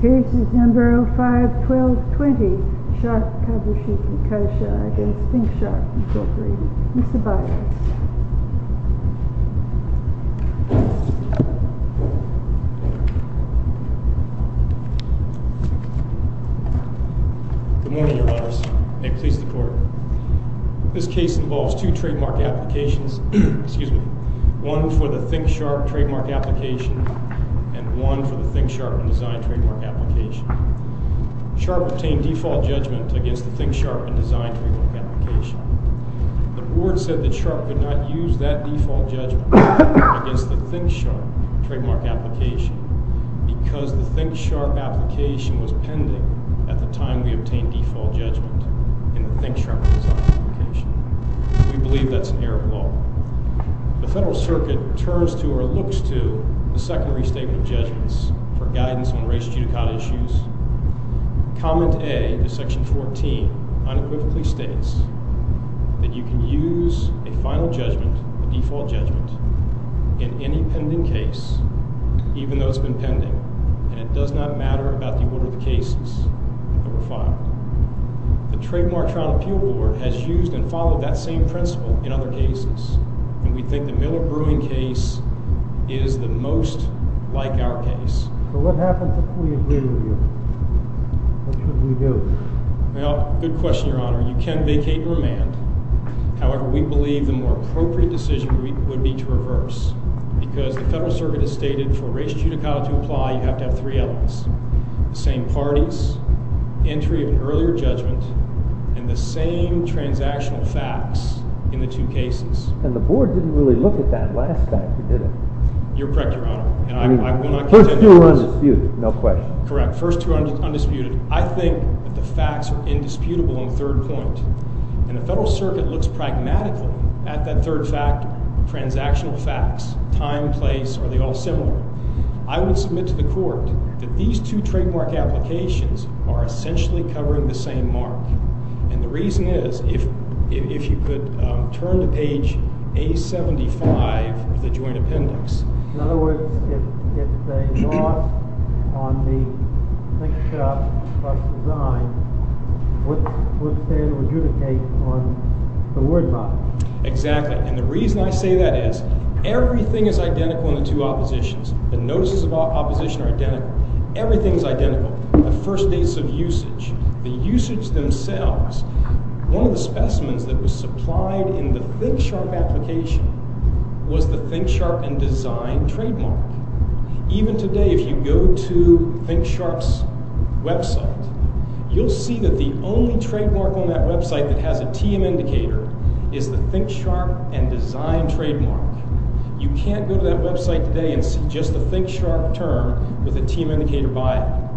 This video was made in Cooperation with Shiga Prefecture Tourism Promotion Division. This case is No. 51220 Sharp-Kabushiki-Kosha v. Thinksharp, Incorporated. Mr. Biden. Good morning, Your Honors. May it please the Court. This case involves two trademark applications. One for the Thinksharp trademark application and one for the Thinksharp in-design trademark application. Sharp obtained default judgment against the Thinksharp in-design trademark application. The Board said that Sharp could not use that default judgment against the Thinksharp in-design trademark application because the Thinksharp application was pending at the time we obtained default judgment in the Thinksharp in-design application. We believe that's an error of law. The Federal Circuit turns to, or looks to, the secondary statement of judgments for guidance on race judicata issues. Comment A to Section 14 unequivocally states that you can use a final judgment, a default judgment, in any pending case, even though it's been pending, and it does not matter about the order of the cases that were filed. The Trademark Trial Appeal Board has used and followed that same principle in other cases, and we think the Miller-Brewing case is the most like our case. So what happens if we agree with you? What should we do? Well, good question, Your Honor. You can vacate and remand. However, we believe the more appropriate decision would be to reverse because the Federal Circuit has stated for race judicata to apply, you have to have three elements. The same parties, entry of an earlier judgment, and the same transactional facts in the two cases. And the Board didn't really look at that last fact, did it? You're correct, Your Honor, and I will not continue. First two are undisputed, no question. Correct. First two are undisputed. I think that the facts are indisputable on third point, and the Federal Circuit looks pragmatically at that third fact, transactional facts, time, place, are they all similar? I would submit to the Court that these two trademark applications are essentially covering the same mark. And the reason is, if you could turn to page A-75 of the joint appendix. In other words, if they lost on the think-sharp first design, what's there to adjudicate on the word mark? Exactly, and the reason I say that is, everything is identical in the two oppositions. The notices of opposition are identical. Everything is identical. The first dates of usage, the usage themselves, one of the specimens that was supplied in the think-sharp application was the think-sharp and design trademark. Even today, if you go to think-sharp's website, you'll see that the only trademark on that website that has a TM indicator is the think-sharp and design trademark. You can't go to that website today and see just the think-sharp term with a TM indicator by it.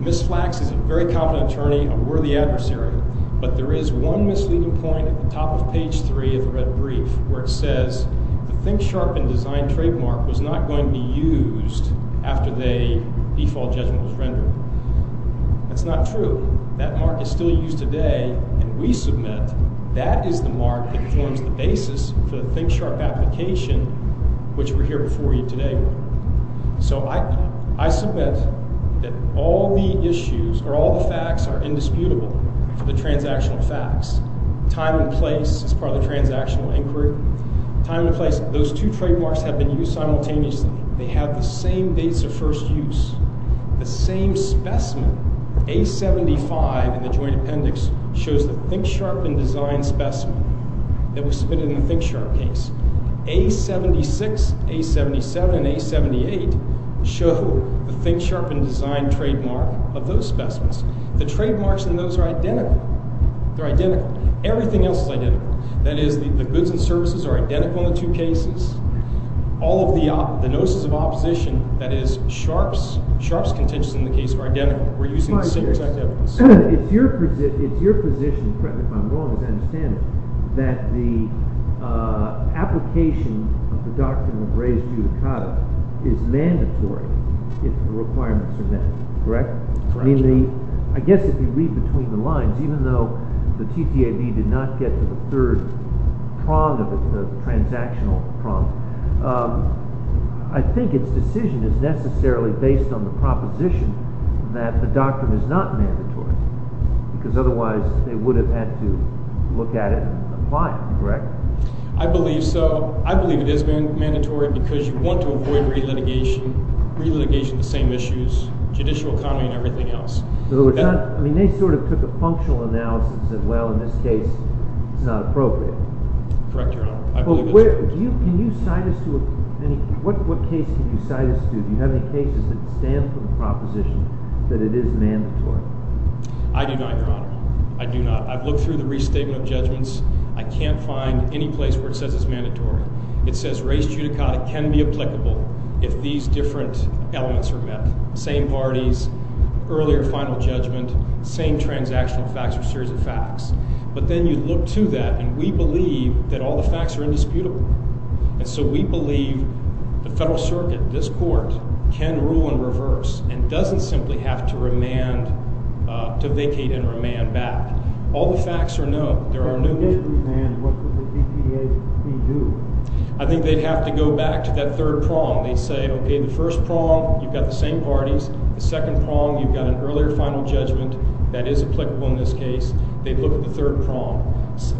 Ms. Flax is a very competent attorney, a worthy adversary, but there is one misleading point at the top of page 3 of the red brief, where it says the think-sharp and design trademark was not going to be used after the default judgment was rendered. That's not true. That mark is still used today, and we submit that is the mark that forms the basis for the think-sharp application, which we're here before you today with. So I submit that all the issues or all the facts are indisputable for the transactional facts. Time and place is part of the transactional inquiry. Time and place, those two trademarks have been used simultaneously. They have the same dates of first use. The same specimen, A-75 in the joint appendix, shows the think-sharp and design specimen that was submitted in the think-sharp case. A-76, A-77, and A-78 show the think-sharp and design trademark of those specimens. The trademarks in those are identical. They're identical. Everything else is identical. That is, the goods and services are identical in the two cases. All of the notices of opposition, that is, sharps, sharps contentious in the case are identical. We're using the same exact evidence. It's your position, correct me if I'm wrong, as I understand it, that the application of the doctrine of raised judicata is mandatory if the requirements are met, correct? Correct. I mean the – I guess if you read between the lines, even though the TTAB did not get to the third prong of the transactional prong, I think its decision is necessarily based on the proposition that the doctrine is not mandatory because otherwise they would have had to look at it and apply it, correct? I believe so. I believe it is mandatory because you want to avoid re-litigation, re-litigation of the same issues, judicial economy, and everything else. So it's not – I mean they sort of took a functional analysis that, well, in this case it's not appropriate. Correct, Your Honor. I believe that's correct. Can you cite us to a – what case can you cite us to? Do you have any cases that stand for the proposition that it is mandatory? I do not, Your Honor. I do not. I've looked through the restatement of judgments. I can't find any place where it says it's mandatory. It says raised judicata can be applicable if these different elements are met, same parties, earlier final judgment, same transactional facts or series of facts. But then you look to that, and we believe that all the facts are indisputable. And so we believe the federal circuit, this court, can rule in reverse and doesn't simply have to remand – to vacate and remand back. All the facts are known. There are no – If they did remand, what would the TTAC do? I think they'd have to go back to that third prong. They'd say, okay, the first prong, you've got the same parties. The second prong, you've got an earlier final judgment. That is applicable in this case. They'd look at the third prong.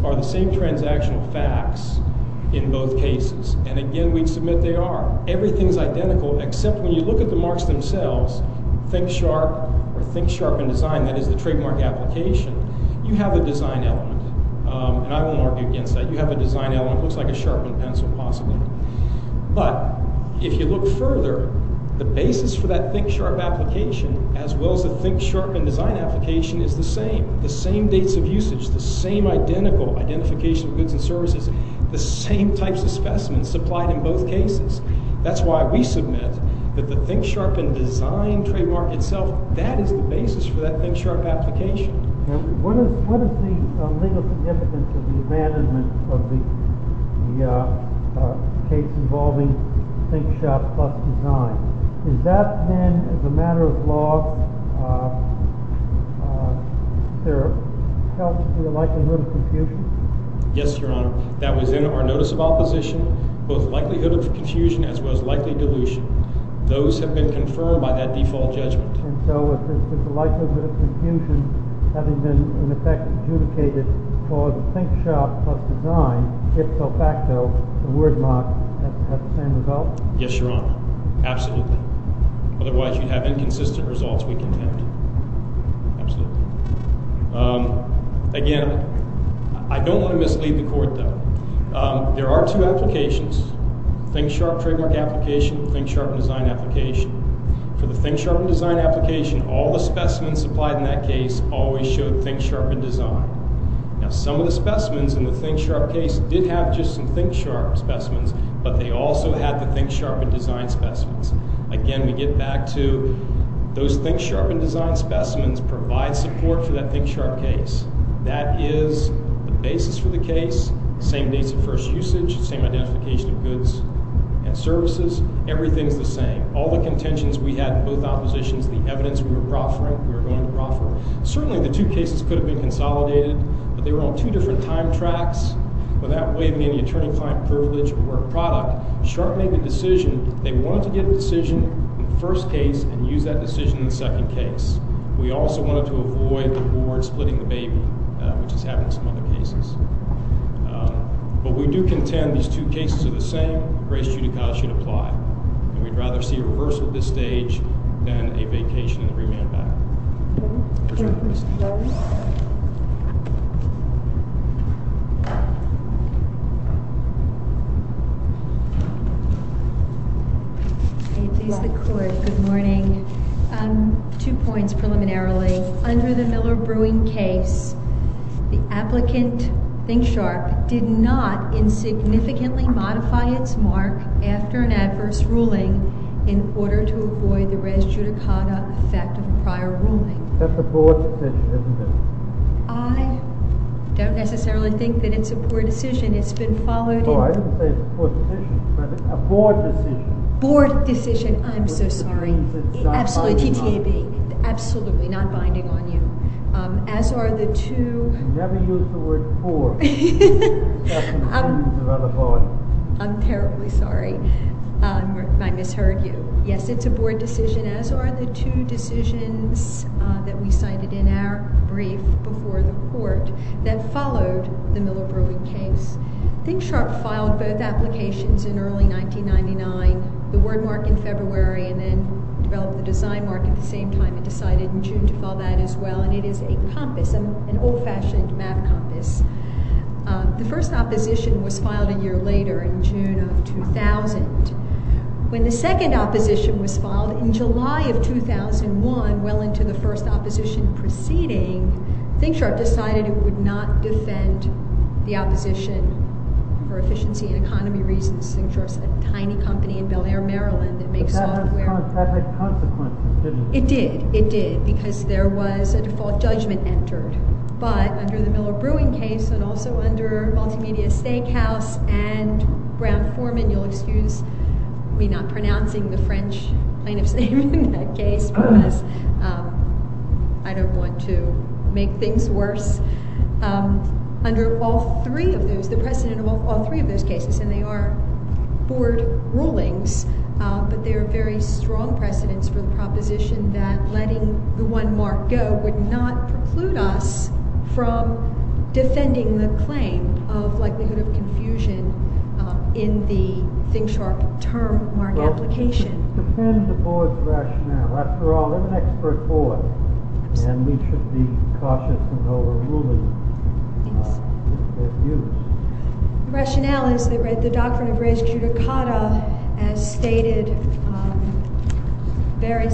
Are the same transactional facts in both cases? And again, we'd submit they are. Everything's identical except when you look at the marks themselves, think sharp or think sharp in design, that is the trademark application, you have a design element. And I won't argue against that. You have a design element. It looks like a sharpened pencil possibly. But if you look further, the basis for that think sharp application as well as the think sharp in design application is the same. The same dates of usage, the same identical identification of goods and services, the same types of specimens supplied in both cases. That's why we submit that the think sharp in design trademark itself, that is the basis for that think sharp application. What is the legal significance of the abandonment of the case involving think sharp plus design? Has that been, as a matter of law, held to the likelihood of confusion? Yes, Your Honor. That was in our notice of opposition, both likelihood of confusion as well as likely dilution. Those have been confirmed by that default judgment. And so is the likelihood of confusion having been in effect adjudicated for the think sharp plus design, if so facto, the word marks have the same result? Yes, Your Honor. Absolutely. Otherwise, you'd have inconsistent results, we contend. Absolutely. Again, I don't want to mislead the Court, though. There are two applications, think sharp trademark application and think sharp in design application. For the think sharp in design application, all the specimens supplied in that case always showed think sharp in design. Now, some of the specimens in the think sharp case did have just some think sharp specimens, but they also had the think sharp in design specimens. Again, we get back to those think sharp in design specimens provide support for that think sharp case. That is the basis for the case, same dates of first usage, same identification of goods and services. Everything is the same. All the contentions we had in both oppositions, the evidence we were proffering, we were going to proffer. Certainly, the two cases could have been consolidated, but they were on two different time tracks without waiving any attorney-client privilege or product. Sharp made the decision, they wanted to get a decision in the first case and use that decision in the second case. We also wanted to avoid the board splitting the baby, which has happened in some other cases. But we do contend these two cases are the same. Grace Judicata should apply. We'd rather see a reversal of this stage than a vacation in the remand battle. Good morning. Two points preliminarily. Under the Miller Brewing case, the applicant, think sharp, did not insignificantly modify its mark after an adverse ruling in order to avoid the res judicata effect of prior ruling. That's a board decision, isn't it? I don't necessarily think that it's a board decision. It's been followed in... Oh, I didn't say it's a board decision, but a board decision. Board decision, I'm so sorry. Which means it's not binding on you. Absolutely, not binding on you. As are the two... You never use the word board. I'm terribly sorry if I misheard you. Yes, it's a board decision, as are the two decisions that we cited in our brief before the court that followed the Miller Brewing case. Think sharp filed both applications in early 1999, the word mark in February, and then developed the design mark at the same time. It decided in June to file that as well, and it is a compass, an old-fashioned map compass. The first opposition was filed a year later in June of 2000. When the second opposition was filed in July of 2001, well into the first opposition proceeding, Think Sharp decided it would not defend the opposition for efficiency and economy reasons. Think Sharp's a tiny company in Bel Air, Maryland that makes software. But that had consequences, didn't it? It did. It did, because there was a default judgment entered. But under the Miller Brewing case, and also under Multimedia Steakhouse and Brown-Forman, you'll excuse me not pronouncing the French plaintiff's name in that case, because I don't want to make things worse. Under all three of those, the precedent of all three of those cases, and they are board rulings, but they are very strong precedents for the proposition that letting the one mark go would not preclude us from defending the claim of likelihood of confusion in the Think Sharp term mark application. It should defend the board's rationale. After all, they're an expert board, and we should be cautious in how we're ruling. The rationale is that the doctrine of res judicata, as stated very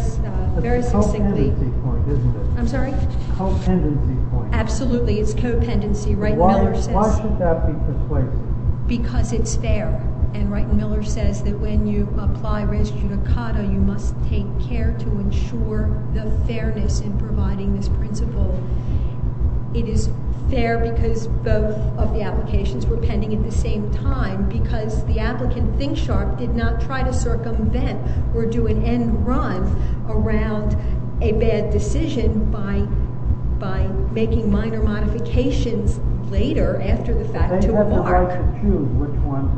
succinctly— That's a co-pendency point, isn't it? I'm sorry? Co-pendency point. Absolutely, it's co-pendency. Wright and Miller says— Why should that be persuasive? Because it's fair, and Wright and Miller says that when you apply res judicata, you must take care to ensure the fairness in providing this principle. It is fair because both of the applications were pending at the same time, because the applicant, Think Sharp, did not try to circumvent or do an end run around a bad decision by making minor modifications later after the fact to a mark. They had the right to choose which one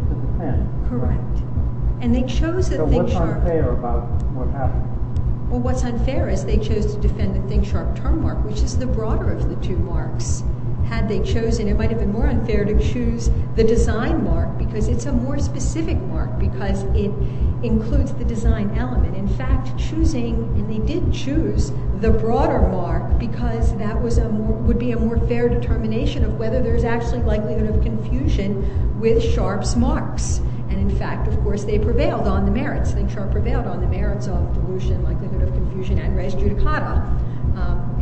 to defend. Correct. And they chose the Think Sharp— So what's unfair about what happened? Well, what's unfair is they chose to defend the Think Sharp term mark, which is the broader of the two marks. Had they chosen, it might have been more unfair to choose the design mark, because it's a more specific mark, because it includes the design element. In fact, choosing—and they did choose the broader mark, because that would be a more fair determination of whether there's actually likelihood of confusion with Sharp's marks. And in fact, of course, they prevailed on the merits. Think Sharp prevailed on the merits of delusion, likelihood of confusion, and res judicata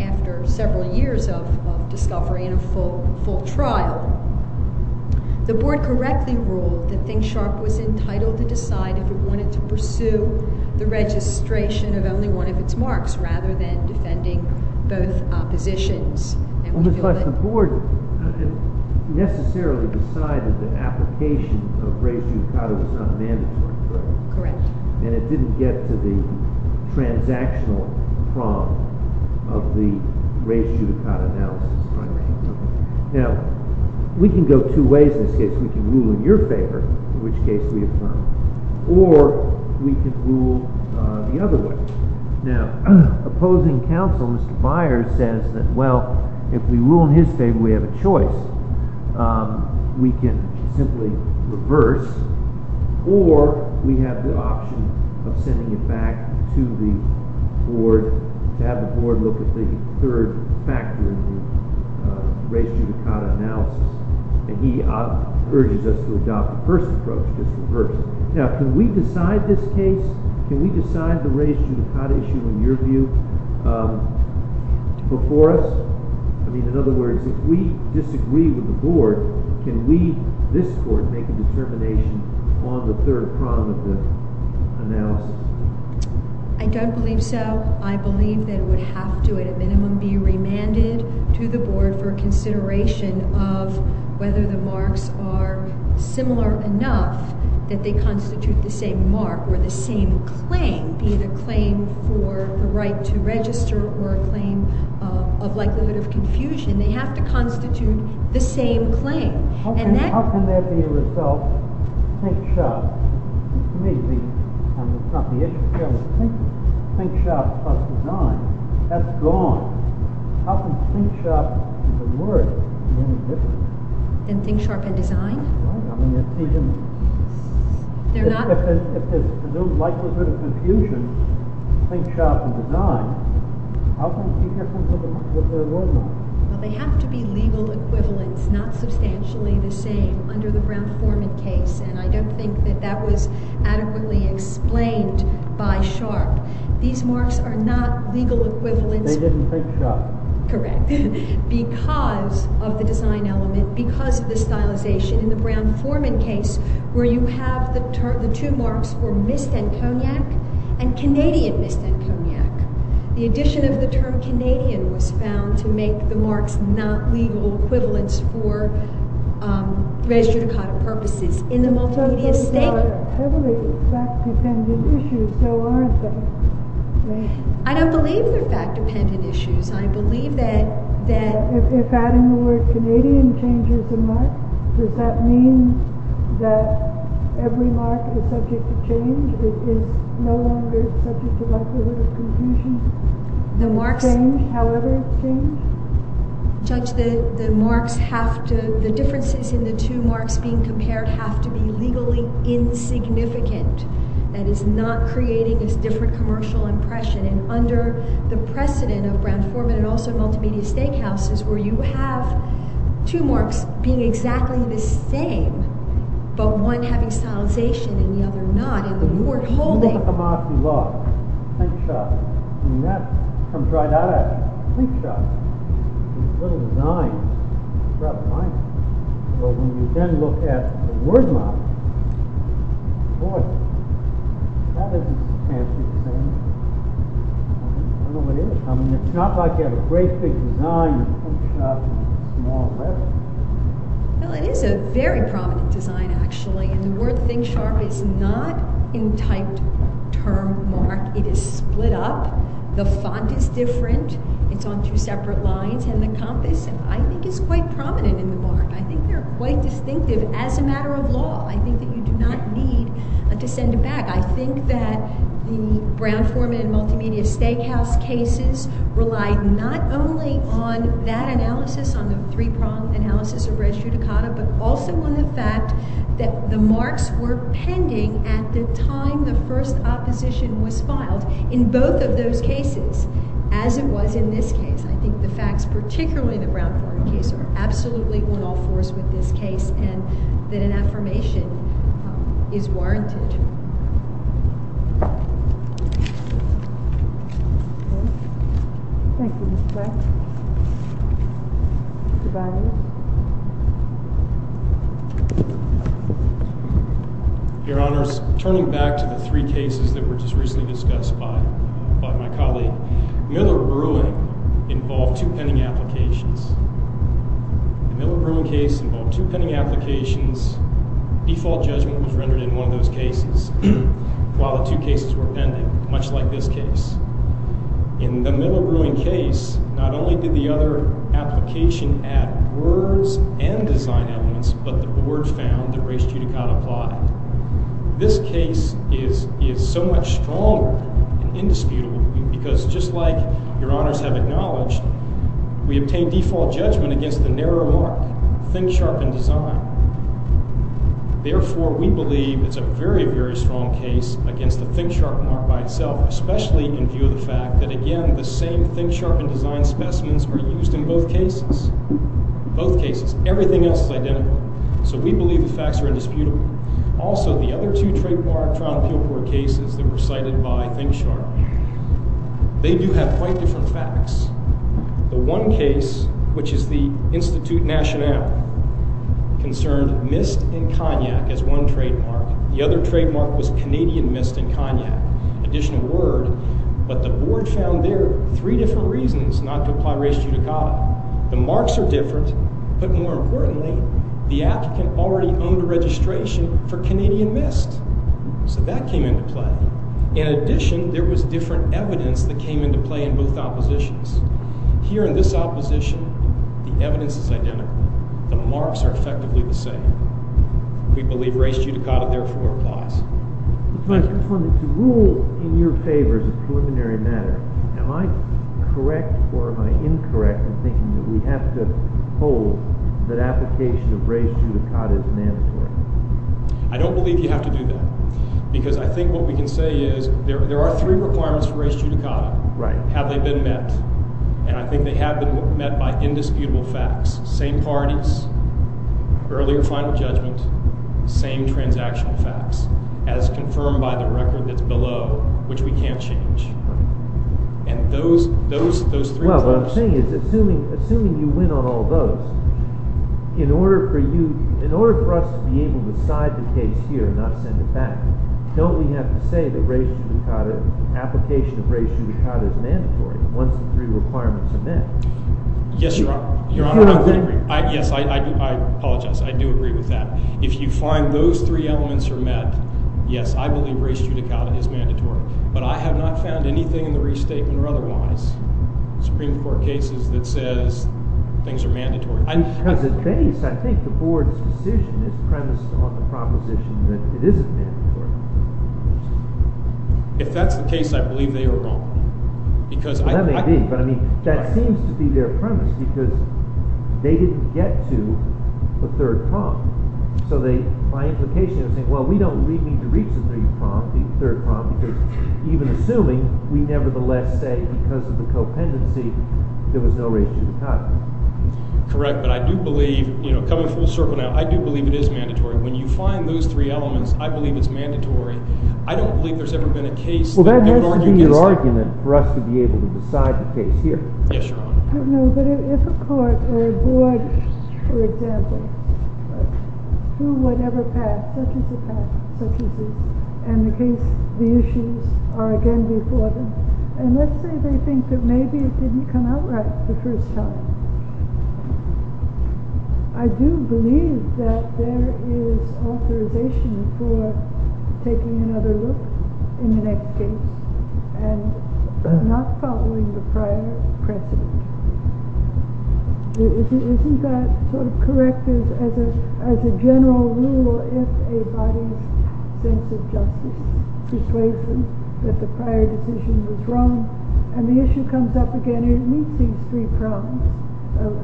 after several years of discovery and a full trial. The board correctly ruled that Think Sharp was entitled to decide if it wanted to pursue the registration of only one of its marks rather than defending both positions. Well, but the board necessarily decided the application of res judicata was not mandatory, correct? Correct. And it didn't get to the transactional problem of the res judicata analysis, right? Right. Now, we can go two ways in this case. We can rule in your favor, in which case we affirm, or we can rule the other way. Now, opposing counsel, Mr. Myers, says that, well, if we rule in his favor, we have a choice. We can simply reverse, or we have the option of sending it back to the board to have the board look at the third factor in the res judicata analysis. And he urges us to adopt the first approach, which is reverse. Now, can we decide this case? Can we decide the res judicata issue in your view before us? I mean, in other words, if we disagree with the board, can we, this court, make a determination on the third problem of the analysis? I don't believe so. I believe that it would have to, at a minimum, be remanded to the board for consideration of whether the marks are similar enough that they constitute the same mark or the same claim, be it a claim for the right to register or a claim of likelihood of confusion. They have to constitute the same claim. How can that be a result? Think sharp. To me, it's not the issue here. Think sharp plus design. That's gone. How can think sharp and design be any different? And think sharp and design? They're not? If there's no likelihood of confusion, think sharp and design, how can it be different with the board marks? Well, they have to be legal equivalents, not substantially the same, under the Brown-Poorman case. And I don't think that that was adequately explained by Sharp. These marks are not legal equivalents. They didn't think sharp. Correct. Because of the design element, because of the stylization in the Brown-Poorman case where you have the two marks for mist and cognac and Canadian mist and cognac, the addition of the term Canadian was found to make the marks not legal equivalents for res judicata purposes. In the multimedia statement. They're heavily fact-dependent issues. So aren't they? I don't believe they're fact-dependent issues. I believe that. If adding the word Canadian changes the mark, does that mean that every mark is subject to change? It is no longer subject to likelihood of confusion? The marks change however it's changed? Judge, the marks have to, the differences in the two marks being compared have to be legally insignificant. That is not creating this different commercial impression. Under the precedent of Brown-Poorman and also multimedia steakhouses where you have two marks being exactly the same but one having stylization and the other not. If you look at the mark you love, think sharp, that comes right out of it. Think sharp. It's a little design. But when you then look at the word mark, boy, that isn't fantastic, is it? I don't know what it is. I mean, it's not like you have a great big design and think sharp is a small letter. Well, it is a very prominent design, actually. And the word think sharp is not in typed term mark. It is split up. The font is different. It's on two separate lines. And the compass, I think, is quite prominent in the mark. I think they're quite distinctive as a matter of law. I think that you do not need to send it back. I think that the Brown-Poorman and multimedia steakhouse cases relied not only on that analysis, on the three-pronged analysis of red strudicata, but also on the fact that the marks were pending at the time the first opposition was filed in both of those cases, as it was in this case. I think the facts, particularly the Brown-Poorman case, are absolutely one-off for us with this case and that an affirmation is warranted. Thank you, Ms. Black. Mr. Biden. Your Honors, turning back to the three cases that were just recently discussed by my colleague, Miller-Berling involved two pending applications. The Miller-Berling case involved two pending applications. Default judgment was rendered in one of those cases while the two cases were pending, much like this case. In the Miller-Berling case, not only did the other application add words and design elements, but the board found that red strudicata applied. This case is so much stronger and indisputable because, just like Your Honors have acknowledged, we obtained default judgment against the narrow mark, ThinkSharp and Design. Therefore, we believe it's a very, very strong case against the ThinkSharp mark by itself, especially in view of the fact that, again, the same ThinkSharp and Design specimens are used in both cases. Both cases. Everything else is identical. So we believe the facts are indisputable. Also, the other two trademark trial and appeal court cases that were cited by ThinkSharp, they do have quite different facts. The one case, which is the Institut National, concerned mist and cognac as one trademark. The other trademark was Canadian mist and cognac. Additional word, but the board found there three different reasons not to apply red strudicata. The marks are different, but more importantly, the applicant already owned a registration for Canadian mist. So that came into play. In addition, there was different evidence that came into play in both oppositions. Here in this opposition, the evidence is identical. The marks are effectively the same. We believe red strudicata therefore applies. To rule in your favor as a preliminary matter, am I correct or am I incorrect in thinking that we have to hold that application of red strudicata is mandatory? I don't believe you have to do that because I think what we can say is there are three requirements for red strudicata. Have they been met? And I think they have been met by indisputable facts. Same parties, earlier final judgment, same transactional facts, as confirmed by the record that's below, which we can't change. And those three things... Well, what I'm saying is, assuming you win on all those, in order for us to be able to decide the case here and not send it back, don't we have to say that red strudicata, application of red strudicata is mandatory once the three requirements are met? Yes, Your Honor. I do agree. Yes, I apologize. I do agree with that. If you find those three elements are met, yes, I believe red strudicata is mandatory. But I have not found anything in the restatement or otherwise, Supreme Court cases, that says things are mandatory. Because at base, I think the board's decision is premised on the proposition that it isn't mandatory. If that's the case, I believe they are wrong. That may be, but that seems to be their premise, because they didn't get to the third prompt. So my implication is saying, well, we don't need to reach the third prompt, because even assuming, we nevertheless say, because of the co-pendency, there was no red strudicata. Correct, but I do believe, coming full circle now, I do believe it is mandatory. When you find those three elements, I believe it's mandatory. I don't believe there's ever been a case that would argue against that. Well, that has to be your argument for us to be able to decide the case here. Yes, Your Honor. I don't know, but if a court or a board, for example, through whatever path, such as the path, such as this, and the case, the issues are again before them, and let's say they think that maybe it didn't come out right the first time. I do believe that there is authorization for taking another look in the next case and not following the prior precedent. Isn't that sort of correct as a general rule, or if a body's sense of justice persuades them that the prior decision was wrong, and the issue comes up again, it meets these three prongs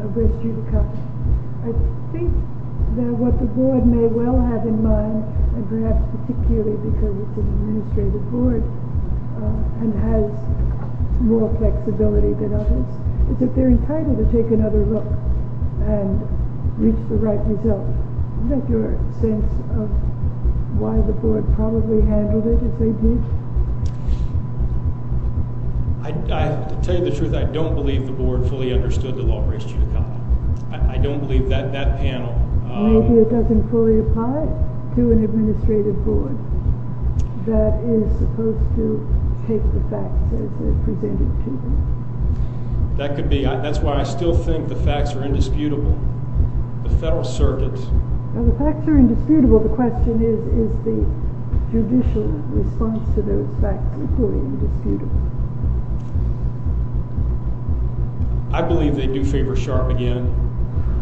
of which you've come. I think that what the board may well have in mind, and perhaps particularly because it's an administrative board and has more flexibility than others, is that they're entitled to take another look and reach the right result. Isn't that your sense of why the board probably handled it if they did? To tell you the truth, I don't believe the board fully understood the law. I don't believe that that panel... Maybe it doesn't fully apply to an administrative board that is supposed to take the facts as they're presented to them. That's why I still think the facts are indisputable. The Federal Circuit... The facts are indisputable. The question is, is the judicial response to those facts equally indisputable? I believe they do favor Sharp again.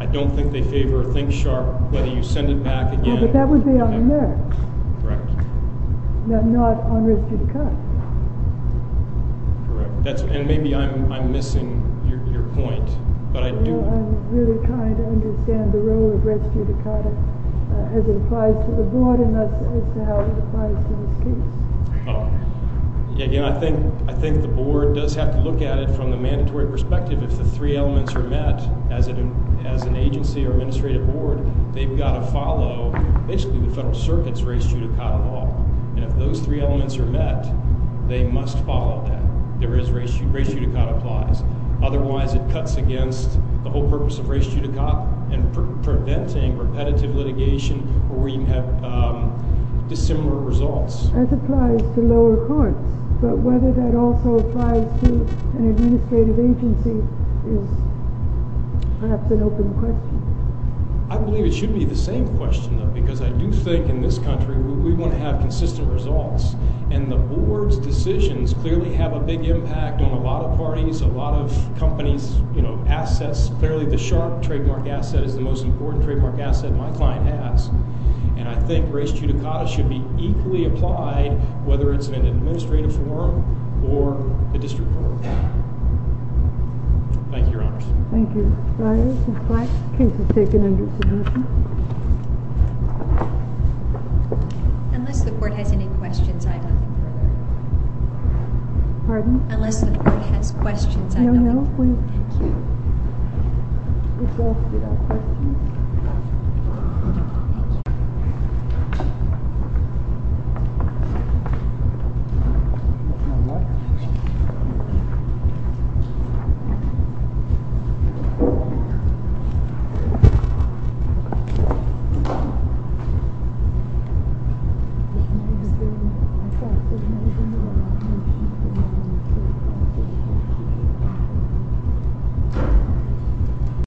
I don't think they favor ThinkSharp. Whether you send it back again... But that would be on Merck. Correct. Not on Res Judicata. Correct. And maybe I'm missing your point, but I do... I'm really trying to understand the role of Res Judicata as it applies to the board and as to how it applies to this case. Again, I think the board does have to look at it from the mandatory perspective. If the three elements are met, as an agency or administrative board, they've got to follow basically the Federal Circuit's Res Judicata law. And if those three elements are met, they must follow that. Res Judicata applies. Otherwise, it cuts against the whole purpose of Res Judicata and preventing repetitive litigation where you have dissimilar results. As applies to lower courts. But whether that also applies to an administrative agency is perhaps an open question. I believe it should be the same question, though, because I do think in this country we want to have consistent results. A lot of companies, you know, assess fairly the sharp trademark asset as the most important trademark asset my client has. And I think Res Judicata should be equally applied whether it's in an administrative forum or a district forum. Thank you, Your Honors. Thank you. Ms. Black, please take an understanding. Unless the court has any questions, I don't. Pardon? Unless the court has questions, I don't. No, no, please. Thank you. Thank you.